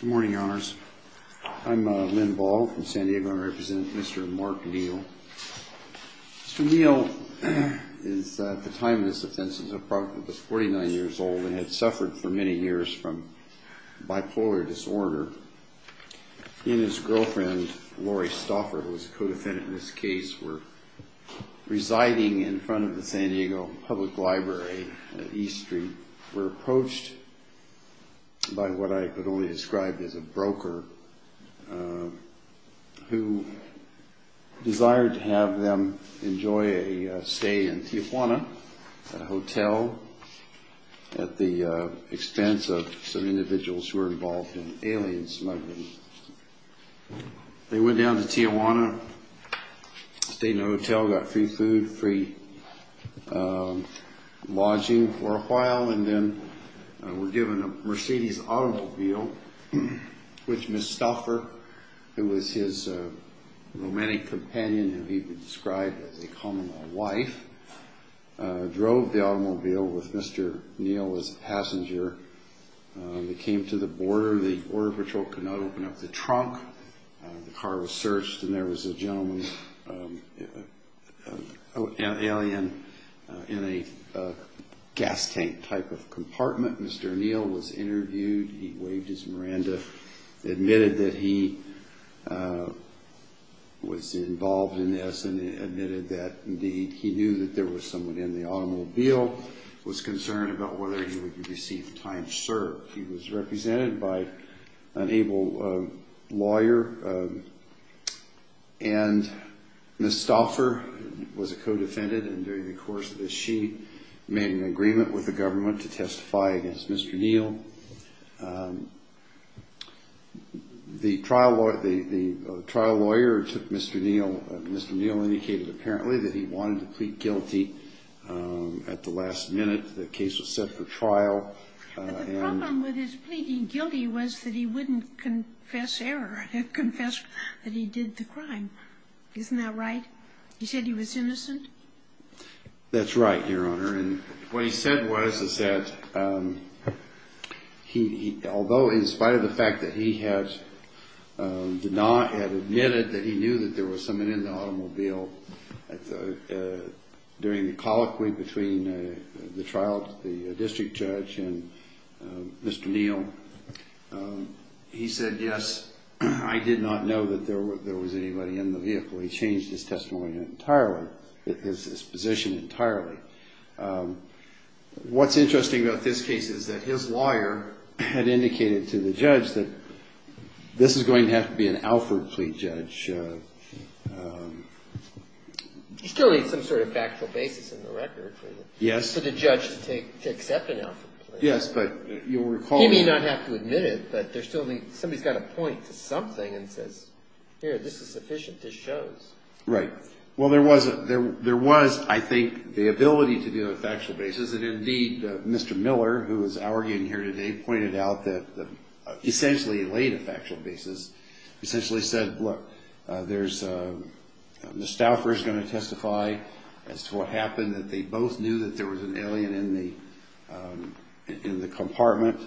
Good morning, Your Honors. I'm Lynn Ball from San Diego, and I represent Mr. Mark Neel. Mr. Neel, at the time of this offense, was approximately 49 years old, and had suffered for many years from bipolar disorder. He and his girlfriend, Lori Stauffer, who was a co-defendant in this case, were residing in front of the San Diego Public Library at E Street, were approached by what I could only describe as a group of people who were described as a broker, who desired to have them enjoy a stay in Tijuana, a hotel, at the expense of some individuals who were involved in alien smuggling. They went down to Tijuana, stayed in a hotel, got free food, free lodging for a while, and then were given a Mercedes automobile, which Ms. Stauffer, who was his romantic companion, who he described as a common life, drove the automobile with Mr. Neel as a passenger. They came to the border. The order patrol could not open up the trunk. The car was searched and there was a gentleman, an alien, in a gas tank type of compartment. Mr. Neel was interviewed. He waived his mercy, and was released. Miranda admitted that he was involved in this and admitted that, indeed, he knew that there was someone in the automobile, was concerned about whether he would receive time served. He was represented by an able lawyer, and Ms. Stauffer was a co-defendant, and during the course of this, she made an agreement with the government to testify against Mr. Neel. The trial lawyer took Mr. Neel. Mr. Neel indicated, apparently, that he wanted to plead guilty at the last minute. The case was set for trial. But the problem with his pleading guilty was that he wouldn't confess error, and confess that he did the crime. Isn't that right? He said he was innocent? That's right, Your Honor. What he said was that, although in spite of the fact that he had admitted that he knew that there was someone in the automobile, during the colloquy between the district judge and Mr. Neel, he said, yes, I did not know that there was anybody in the vehicle. He changed his testimony entirely, his position entirely. What's interesting about this case is that his lawyer had indicated to the judge that this is going to have to be an Alford plea judge. You still need some sort of factual basis in the record for the judge to accept an Alford plea. He may not have to admit it, but somebody's got to point to something and say, here, this is sufficient, this shows. Right. Well, there was, I think, the ability to do a factual basis, and indeed, Mr. Miller, who is arguing here today, pointed out that essentially he laid a factual basis, essentially said, look, Mr. Stafford is going to testify as to what happened, that they both knew that there was an alien in the compartment.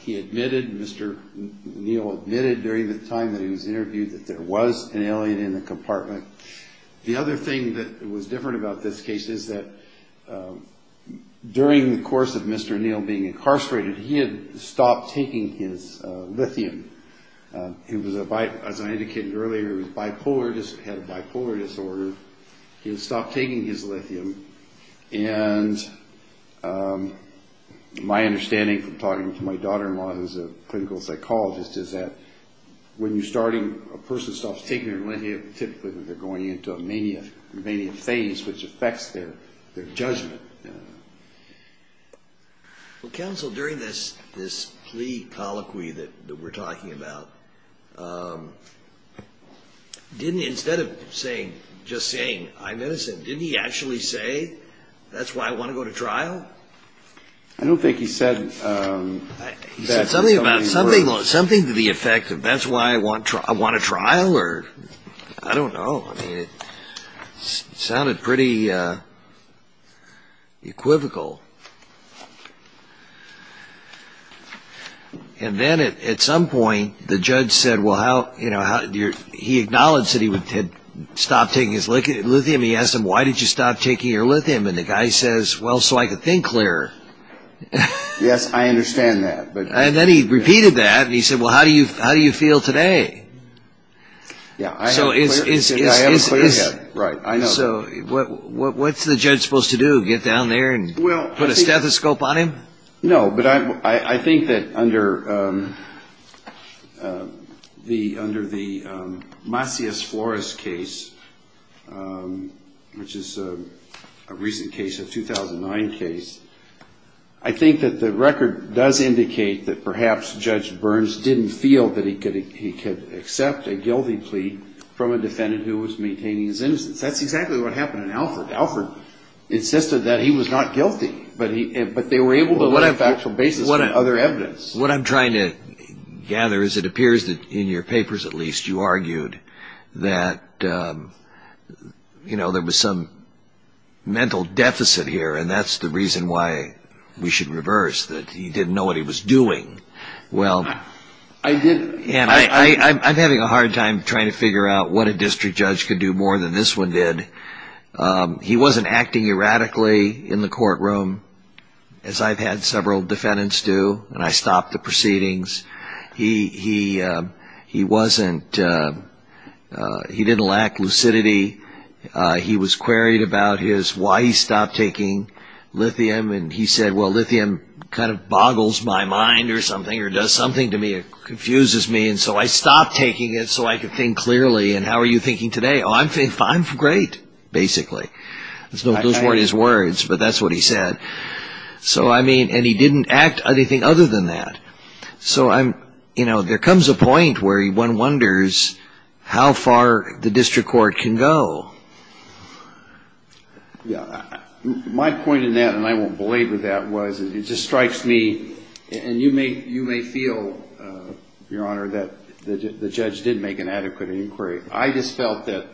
He admitted, Mr. Neel admitted during the time that he was interviewed that there was an alien in the compartment. The other thing that was different about this case is that during the course of Mr. Neel being incarcerated, he had stopped taking his lithium. As I indicated earlier, he had a bipolar disorder. He had stopped taking his lithium, and my understanding from talking to my daughter-in-law, who's a clinical psychologist, is that when you're starting, a person stops taking their lithium, typically they're going into a mania phase, which affects their judgment. Well, counsel, during this plea colloquy that we're talking about, didn't, instead of saying, just saying, I'm innocent, didn't he actually say, that's why I want to go to trial? I don't think he said that. He said something to the effect of, that's why I want a trial? I don't know. It sounded pretty equivocal. And then at some point, the judge said, well, he acknowledged that he had stopped taking his lithium. He asked him, why did you stop taking your lithium? And the guy says, well, so I could think clearer. Yes, I understand that. And then he repeated that, and he said, well, how do you feel today? Yeah, I have a clear head. Right, I know that. So, what's the judge supposed to do? Get down there and? Put a stethoscope on him? No, but I think that under the Macias Flores case, which is a recent case, a 2009 case, I think that the record does indicate that perhaps Judge Burns didn't feel that he could accept a guilty plea from a defendant who was maintaining his innocence. That's exactly what happened in Alford. Alford insisted that he was not guilty, but they were able to lay a factual basis for other evidence. What I'm trying to gather is it appears that, in your papers at least, you argued that there was some mental deficit here, and that's the reason why we should reverse, that he didn't know what he was doing. I'm having a hard time trying to figure out what a district judge could do more than this one did. He wasn't acting erratically in the courtroom, as I've had several defendants do, and I stopped the proceedings. He didn't lack lucidity. He was queried about why he stopped taking lithium, and he said, well, lithium kind of boggles my mind or something, or does something to me. It confuses me, and so I stopped taking it so I could think clearly, and how are you thinking today? Oh, I'm fine, great, basically. Those weren't his words, but that's what he said. And he didn't act anything other than that. So there comes a point where one wonders how far the district court can go. My point in that, and I won't belabor that, was it just strikes me, and you may feel, Your Honor, that the judge did make an adequate inquiry. I just felt that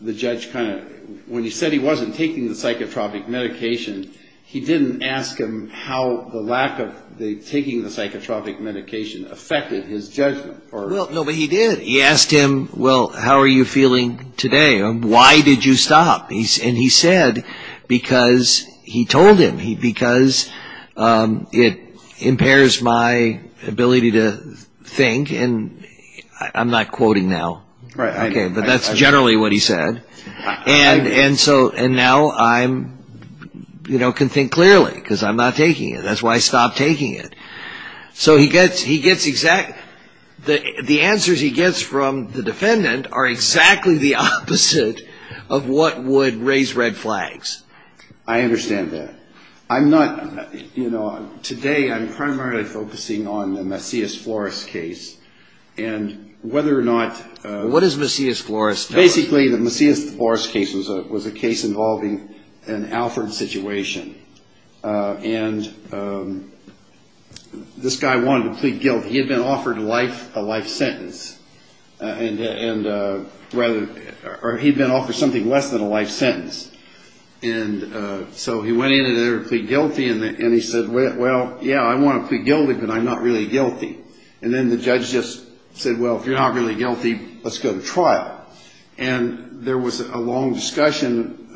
the judge kind of, when he said he wasn't taking the psychotropic medication, he didn't ask him how the lack of taking the psychotropic medication affected his judgment. No, but he did. He asked him, well, how are you feeling today? Why did you stop? And he said, because he told him, because it impairs my ability to think, and I'm not quoting now. Okay, but that's generally what he said, and now I can think clearly because I'm not taking it. That's why I stopped taking it. So the answers he gets from the defendant are exactly the opposite of what would raise red flags. I understand that. I'm not, you know, today I'm primarily focusing on the Macias Flores case, and whether or not- What does Macias Flores tell us? Basically, the Macias Flores case was a case involving an Alfred situation, and this guy wanted to plead guilt. He had been offered life, a life sentence, and rather, or he'd been offered something less than a life sentence, and so he went in there to plead guilty, and he said, well, yeah, I want to plead guilty, but I'm not really guilty. And then the judge just said, well, if you're not really guilty, let's go to trial. And there was a long discussion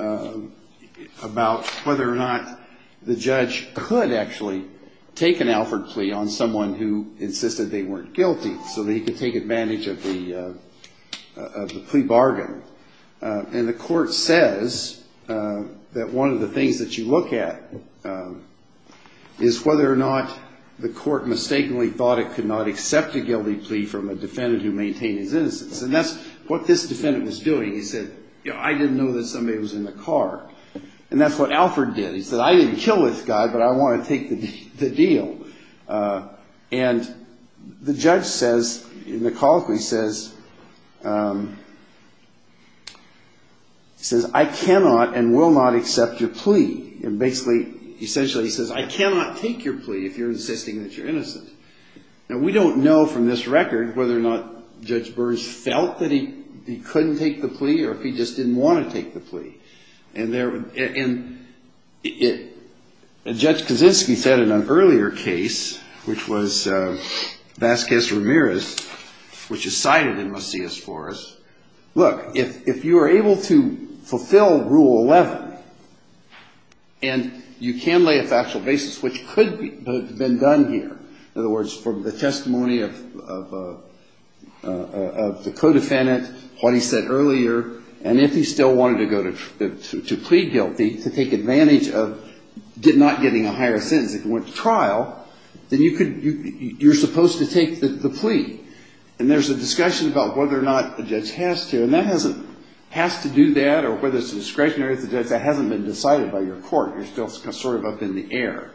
about whether or not the judge could actually take an Alfred plea on someone who insisted they weren't guilty so that he could take advantage of the plea bargain. And the court says that one of the things that you look at is whether or not the court mistakenly thought it could not accept a guilty plea from a defendant who maintained his innocence. And that's what this defendant was doing. He said, you know, I didn't know that somebody was in the car, and that's what Alfred did. He said, I didn't kill this guy, but I want to take the deal. And the judge says, in the colloquy, says, he says, I cannot and will not accept your plea. And basically, essentially, he says, I cannot take your plea if you're insisting that you're innocent. Now, we don't know from this record whether or not Judge Burns felt that he couldn't take the plea or if he just didn't want to take the plea. And Judge Kaczynski said in an earlier case, which was Vasquez-Ramirez, which is cited in Macias-Forres, look, if you are able to fulfill Rule 11, and you can lay a factual basis, which could have been done here, in other words, from the testimony of the co-defendant, what he said earlier, and if he still wanted to go to plead guilty, to take advantage of not getting a higher sentence, if he went to trial, then you could, you're supposed to take the plea. And there's a discussion about whether or not a judge has to. And that hasn't, has to do that, or whether it's discretionary, that hasn't been decided by your court. You're still sort of up in the air.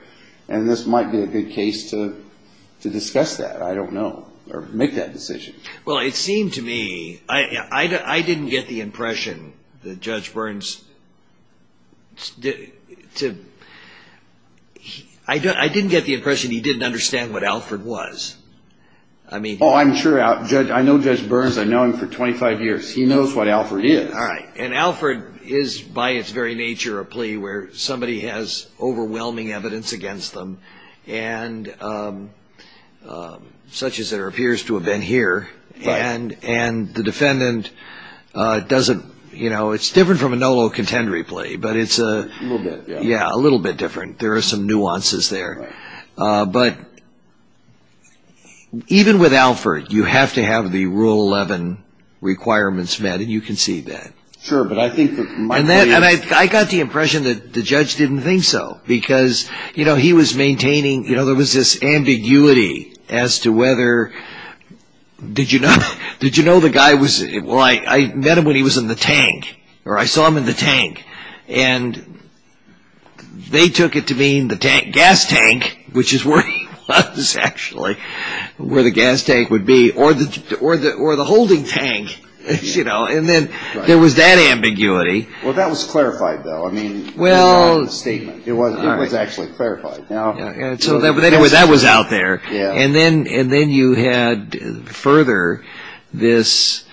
And this might be a good case to discuss that. I don't know. Or make that decision. Well, it seemed to me, I didn't get the impression that Judge Burns, I didn't get the impression he didn't understand what Alford was. Oh, I'm sure, I know Judge Burns, I've known him for 25 years. He knows what Alford is. All right. And Alford is, by its very nature, a plea where somebody has overwhelming evidence against them, such as it appears to have been here. And the defendant doesn't, you know, it's different from a nolo contendere plea, but it's a, yeah, a little bit different. There are some nuances there. But even with Alford, you have to have the Rule 11 requirements met, and you can see that. Sure, but I think that my plea is. And I got the impression that the judge didn't think so, because, you know, he was maintaining, you know, there was this ambiguity as to whether, did you know, did you know the guy was, well, I met him when he was in the tank, or I saw him in the tank. And they took it to mean the gas tank, which is where he was, actually, where the gas tank would be, or the holding tank, you know. And then there was that ambiguity. Well, that was clarified, though. I mean, it wasn't a statement. It was actually clarified. So anyway, that was out there. And then you had further this,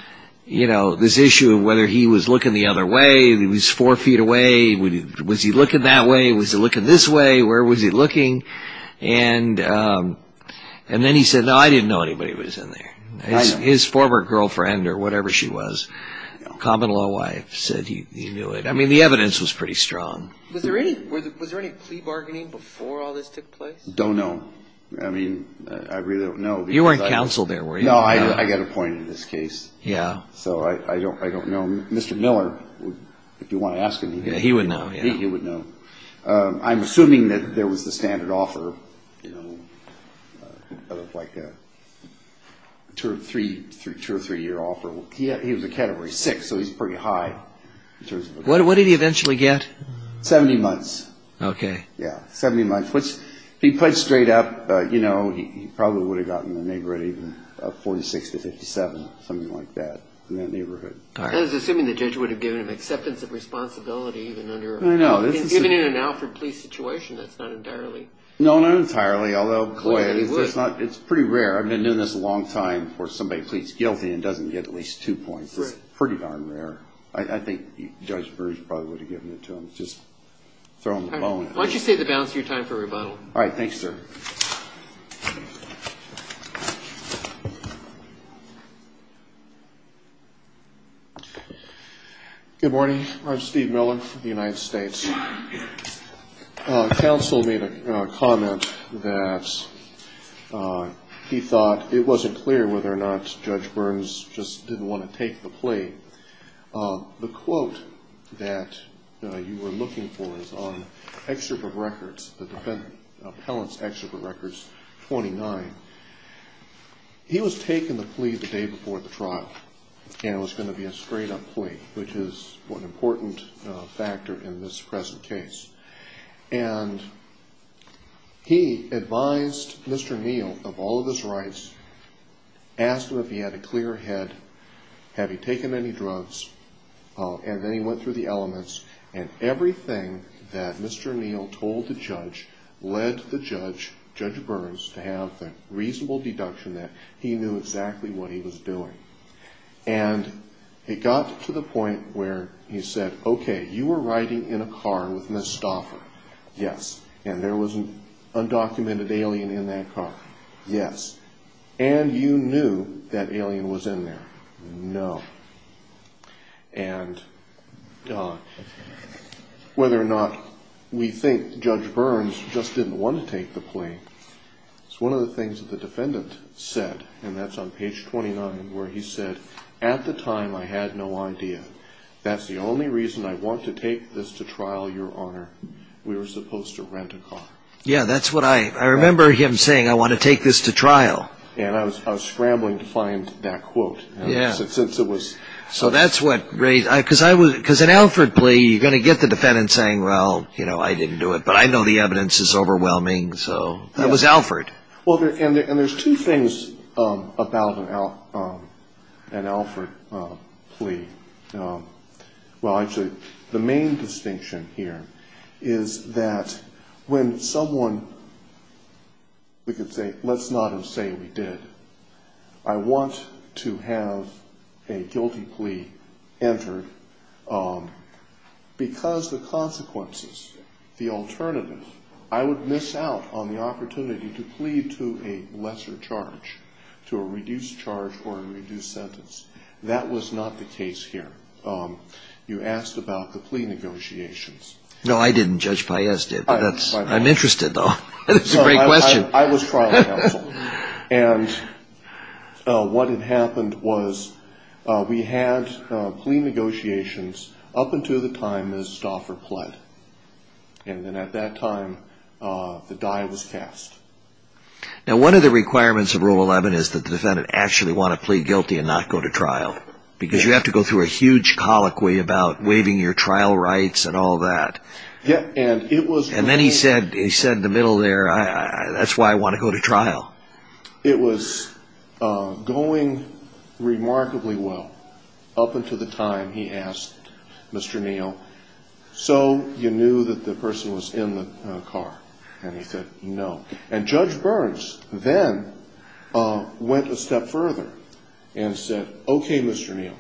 you know, this issue of whether he was looking the other way, if he was four feet away. Was he looking that way? Was he looking this way? Where was he looking? And then he said, no, I didn't know anybody was in there. His former girlfriend or whatever she was, common-law wife, said he knew it. I mean, the evidence was pretty strong. Was there any plea bargaining before all this took place? Don't know. I mean, I really don't know. You weren't counsel there, were you? No, I got appointed in this case. Yeah. So I don't know. Mr. Miller, if you want to ask him, he would know. Yeah, he would know. He would know. I'm assuming that there was the standard offer, you know, like a two or three-year offer. He was a category six, so he's pretty high. What did he eventually get? Seventy months. Okay. Yeah, seventy months, which if he pledged straight up, you know, he probably would have gotten a neighborhood even of 46 to 57, something like that in that neighborhood. All right. I was assuming the judge would have given him acceptance of responsibility even in an Alfred Police situation. That's not entirely. No, not entirely, although, boy, it's pretty rare. I've been doing this a long time for somebody who pleads guilty and doesn't get at least two points. It's pretty darn rare. I think Judge Burns probably would have given it to him. Just throw him the bone. Why don't you save the balance of your time for rebuttal? All right. Thanks, sir. Good morning. I'm Steve Miller from the United States. Counsel made a comment that he thought it wasn't clear whether or not Judge Burns just didn't want to take the plea. The quote that you were looking for is on excerpt of records, the defendant's excerpt of records 29. He was taking the plea the day before the trial, and it was going to be a straight up plea, which is an important factor in this present case. And he advised Mr. Neal of all of his rights, asked him if he had a clear head, have he taken any drugs, and then he went through the elements, and everything that Mr. Neal told the judge led the judge, Judge Burns, to have the reasonable deduction that he knew exactly what he was doing. And it got to the point where he said, okay, you were riding in a car with Ms. Stauffer, yes, and there was an undocumented alien in that car, yes, and you knew that alien was in there. No. And whether or not we think Judge Burns just didn't want to take the plea, it's one of the things that the defendant said, and that's on page 29, where he said, at the time I had no idea. That's the only reason I want to take this to trial, Your Honor. We were supposed to rent a car. Yeah, that's what I, I remember him saying, I want to take this to trial. And I was scrambling to find that quote. Yeah. Since it was. So that's what raised, because an Alford plea, you're going to get the defendant saying, well, you know, I didn't do it, but I know the evidence is overwhelming, so it was Alford. Well, and there's two things about an Alford plea. Well, actually, the main distinction here is that when someone, we could say, let's not say we did, I want to have a guilty plea entered because the consequences, the alternative, I would miss out on the opportunity to plead to a lesser charge, to a reduced charge or a reduced sentence. That was not the case here. You asked about the plea negotiations. No, I didn't. Judge Paez did. I'm interested, though. It's a great question. I was trial counsel. And what had happened was we had plea negotiations up until the time Ms. Stauffer pled. And then at that time, the die was cast. Now, one of the requirements of Rule 11 is that the defendant actually want to plead guilty and not go to trial. Because you have to go through a huge colloquy about waiving your trial rights and all that. And it was. And then he said in the middle there, that's why I want to go to trial. It was going remarkably well up until the time he asked Mr. Neal, so you knew that the person was in the car? And he said, no. And Judge Burns then went a step further and said, okay, Mr. Neal,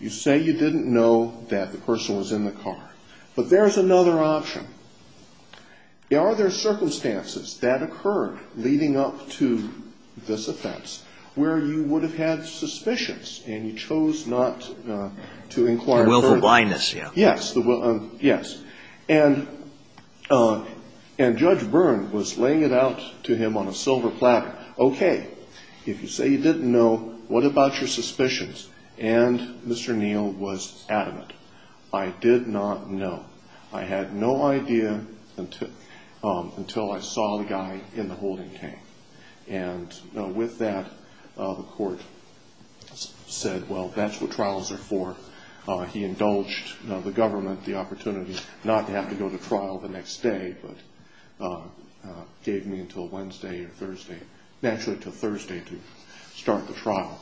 you say you didn't know that the person was in the car. But there's another option. Are there circumstances that occurred leading up to this offense where you would have had suspicions and you chose not to inquire further? The willful blindness, yeah. Yes. And Judge Burns was laying it out to him on a silver platter. Okay, if you say you didn't know, what about your suspicions? And Mr. Neal was adamant. I did not know. I had no idea until I saw the guy in the holding tank. And with that, the court said, well, that's what trials are for. He indulged the government the opportunity not to have to go to trial the next day, but gave me until Wednesday or Thursday, actually until Thursday to start the trial.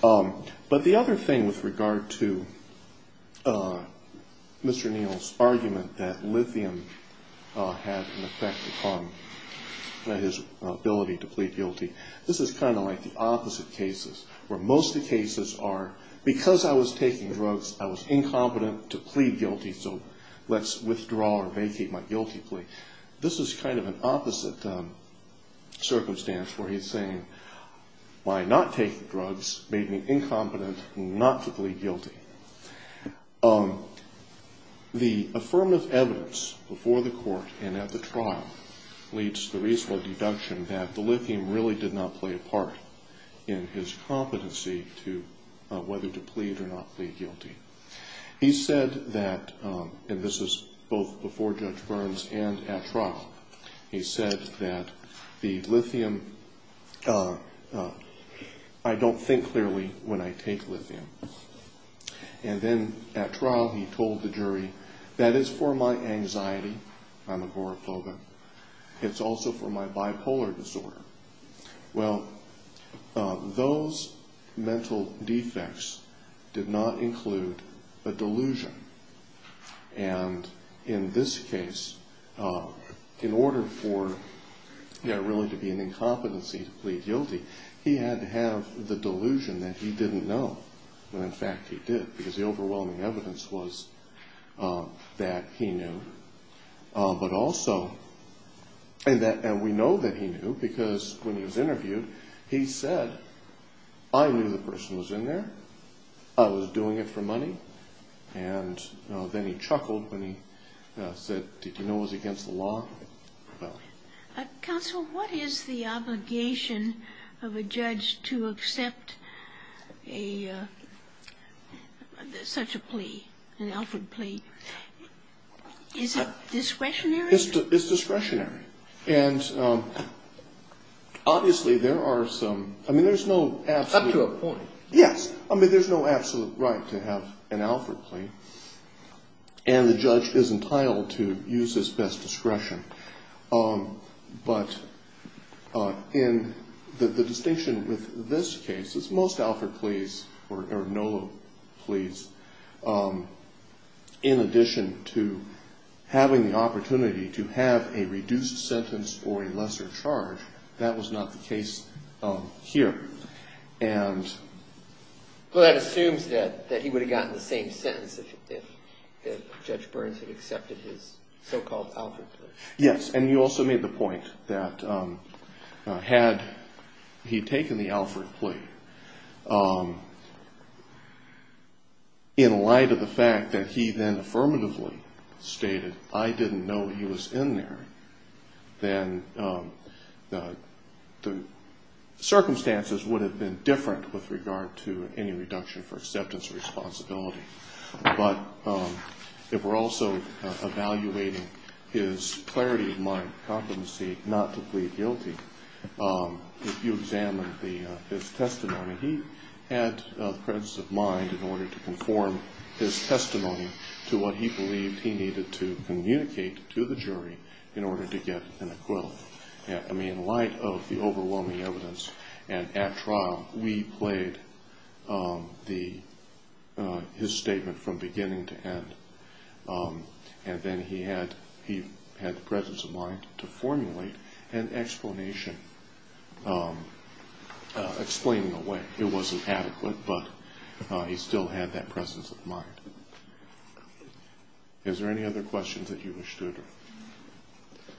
But the other thing with regard to Mr. Neal's argument that lithium had an effect upon his ability to plead guilty, this is kind of like the opposite cases where most of the cases are because I was taking drugs, I was incompetent to plead guilty, so let's withdraw or vacate my guilty plea. This is kind of an opposite circumstance where he's saying, well, I'm not taking drugs, made me incompetent not to plead guilty. The affirmative evidence before the court and at the trial leads to the reasonable deduction that the lithium really did not play a part in his competency to whether to plead or not plead guilty. He said that, and this is both before Judge Burns and at trial, he said that the lithium, I don't think clearly when I take lithium. And then at trial he told the jury, that is for my anxiety, I'm agoraphobic. It's also for my bipolar disorder. Well, those mental defects did not include a delusion. And in this case, in order for there really to be an incompetency to plead guilty, he had to have the delusion that he didn't know, when in fact he did, because the overwhelming evidence was that he knew. But also, and we know that he knew because when he was interviewed, he said, I knew the person was in there, I was doing it for money. And then he chuckled when he said, did you know it was against the law? Counsel, what is the obligation of a judge to accept such a plea, an Alfred plea? Is it discretionary? It's discretionary. And obviously there are some, I mean, there's no absolute. It's up to a point. Yes. I mean, there's no absolute right to have an Alfred plea. And the judge is entitled to use his best discretion. But in the distinction with this case, it's most Alfred pleas, or NOLA pleas, in addition to having the opportunity to have a reduced sentence for a lesser charge. That was not the case here. Well, that assumes that he would have gotten the same sentence if Judge Burns had accepted his so-called Alfred plea. Yes. And you also made the point that had he taken the Alfred plea, in light of the fact that he then affirmatively stated, I didn't know he was in there, then the circumstances would have been different with regard to any reduction for acceptance But if we're also evaluating his clarity of mind, competency not to plead guilty, if you examine his testimony, he had the presence of mind in order to conform his testimony to what he believed he needed to communicate to the jury in order to get an acquittal. I mean, in light of the overwhelming evidence, and at trial, we played his statement from beginning to end. And then he had the presence of mind to formulate an explanation, explaining away. It wasn't adequate, but he still had that presence of mind. Is there any other questions that you wish to address?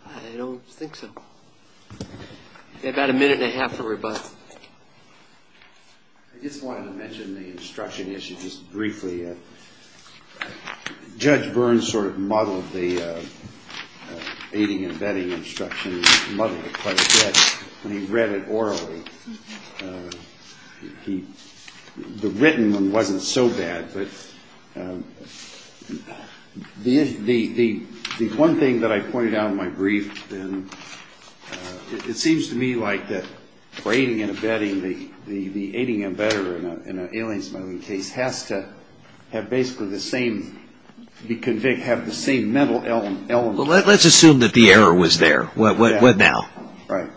I don't think so. About a minute and a half for rebuttal. I just wanted to mention the instruction issue just briefly. Judge Burns sort of muddled the aiding and abetting instruction, muddled it quite a bit when he read it orally. The written one wasn't so bad. But the one thing that I pointed out in my brief, it seems to me like the aiding and abetting, the aiding and abetting in an alien smuggling case has to have basically the same mental element. Let's assume that the error was there. What now? Right.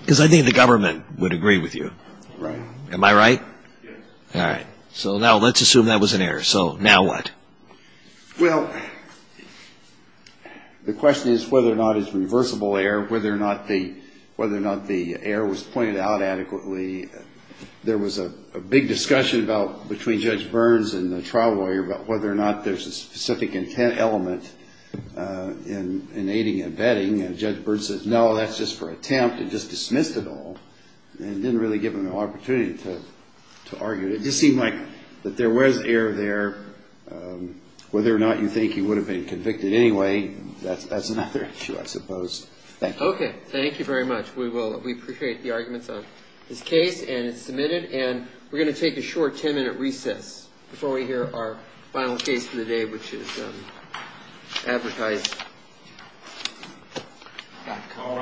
Because I think the government would agree with you. Right. Am I right? Yes. All right. So now let's assume that was an error. So now what? Well, the question is whether or not it's reversible error, whether or not the error was pointed out adequately. There was a big discussion about, between Judge Burns and the trial lawyer, about whether or not there's a specific intent element in aiding and abetting. And Judge Burns said, no, that's just for attempt. It just dismissed it all and didn't really give him an opportunity to argue. It just seemed like that there was error there. Whether or not you think he would have been convicted anyway, that's another issue, I suppose. Thank you. Okay. Thank you very much. We appreciate the arguments on this case. And it's submitted. And we're going to take a short ten-minute recess before we hear our final case for the day, which is advertised. All right.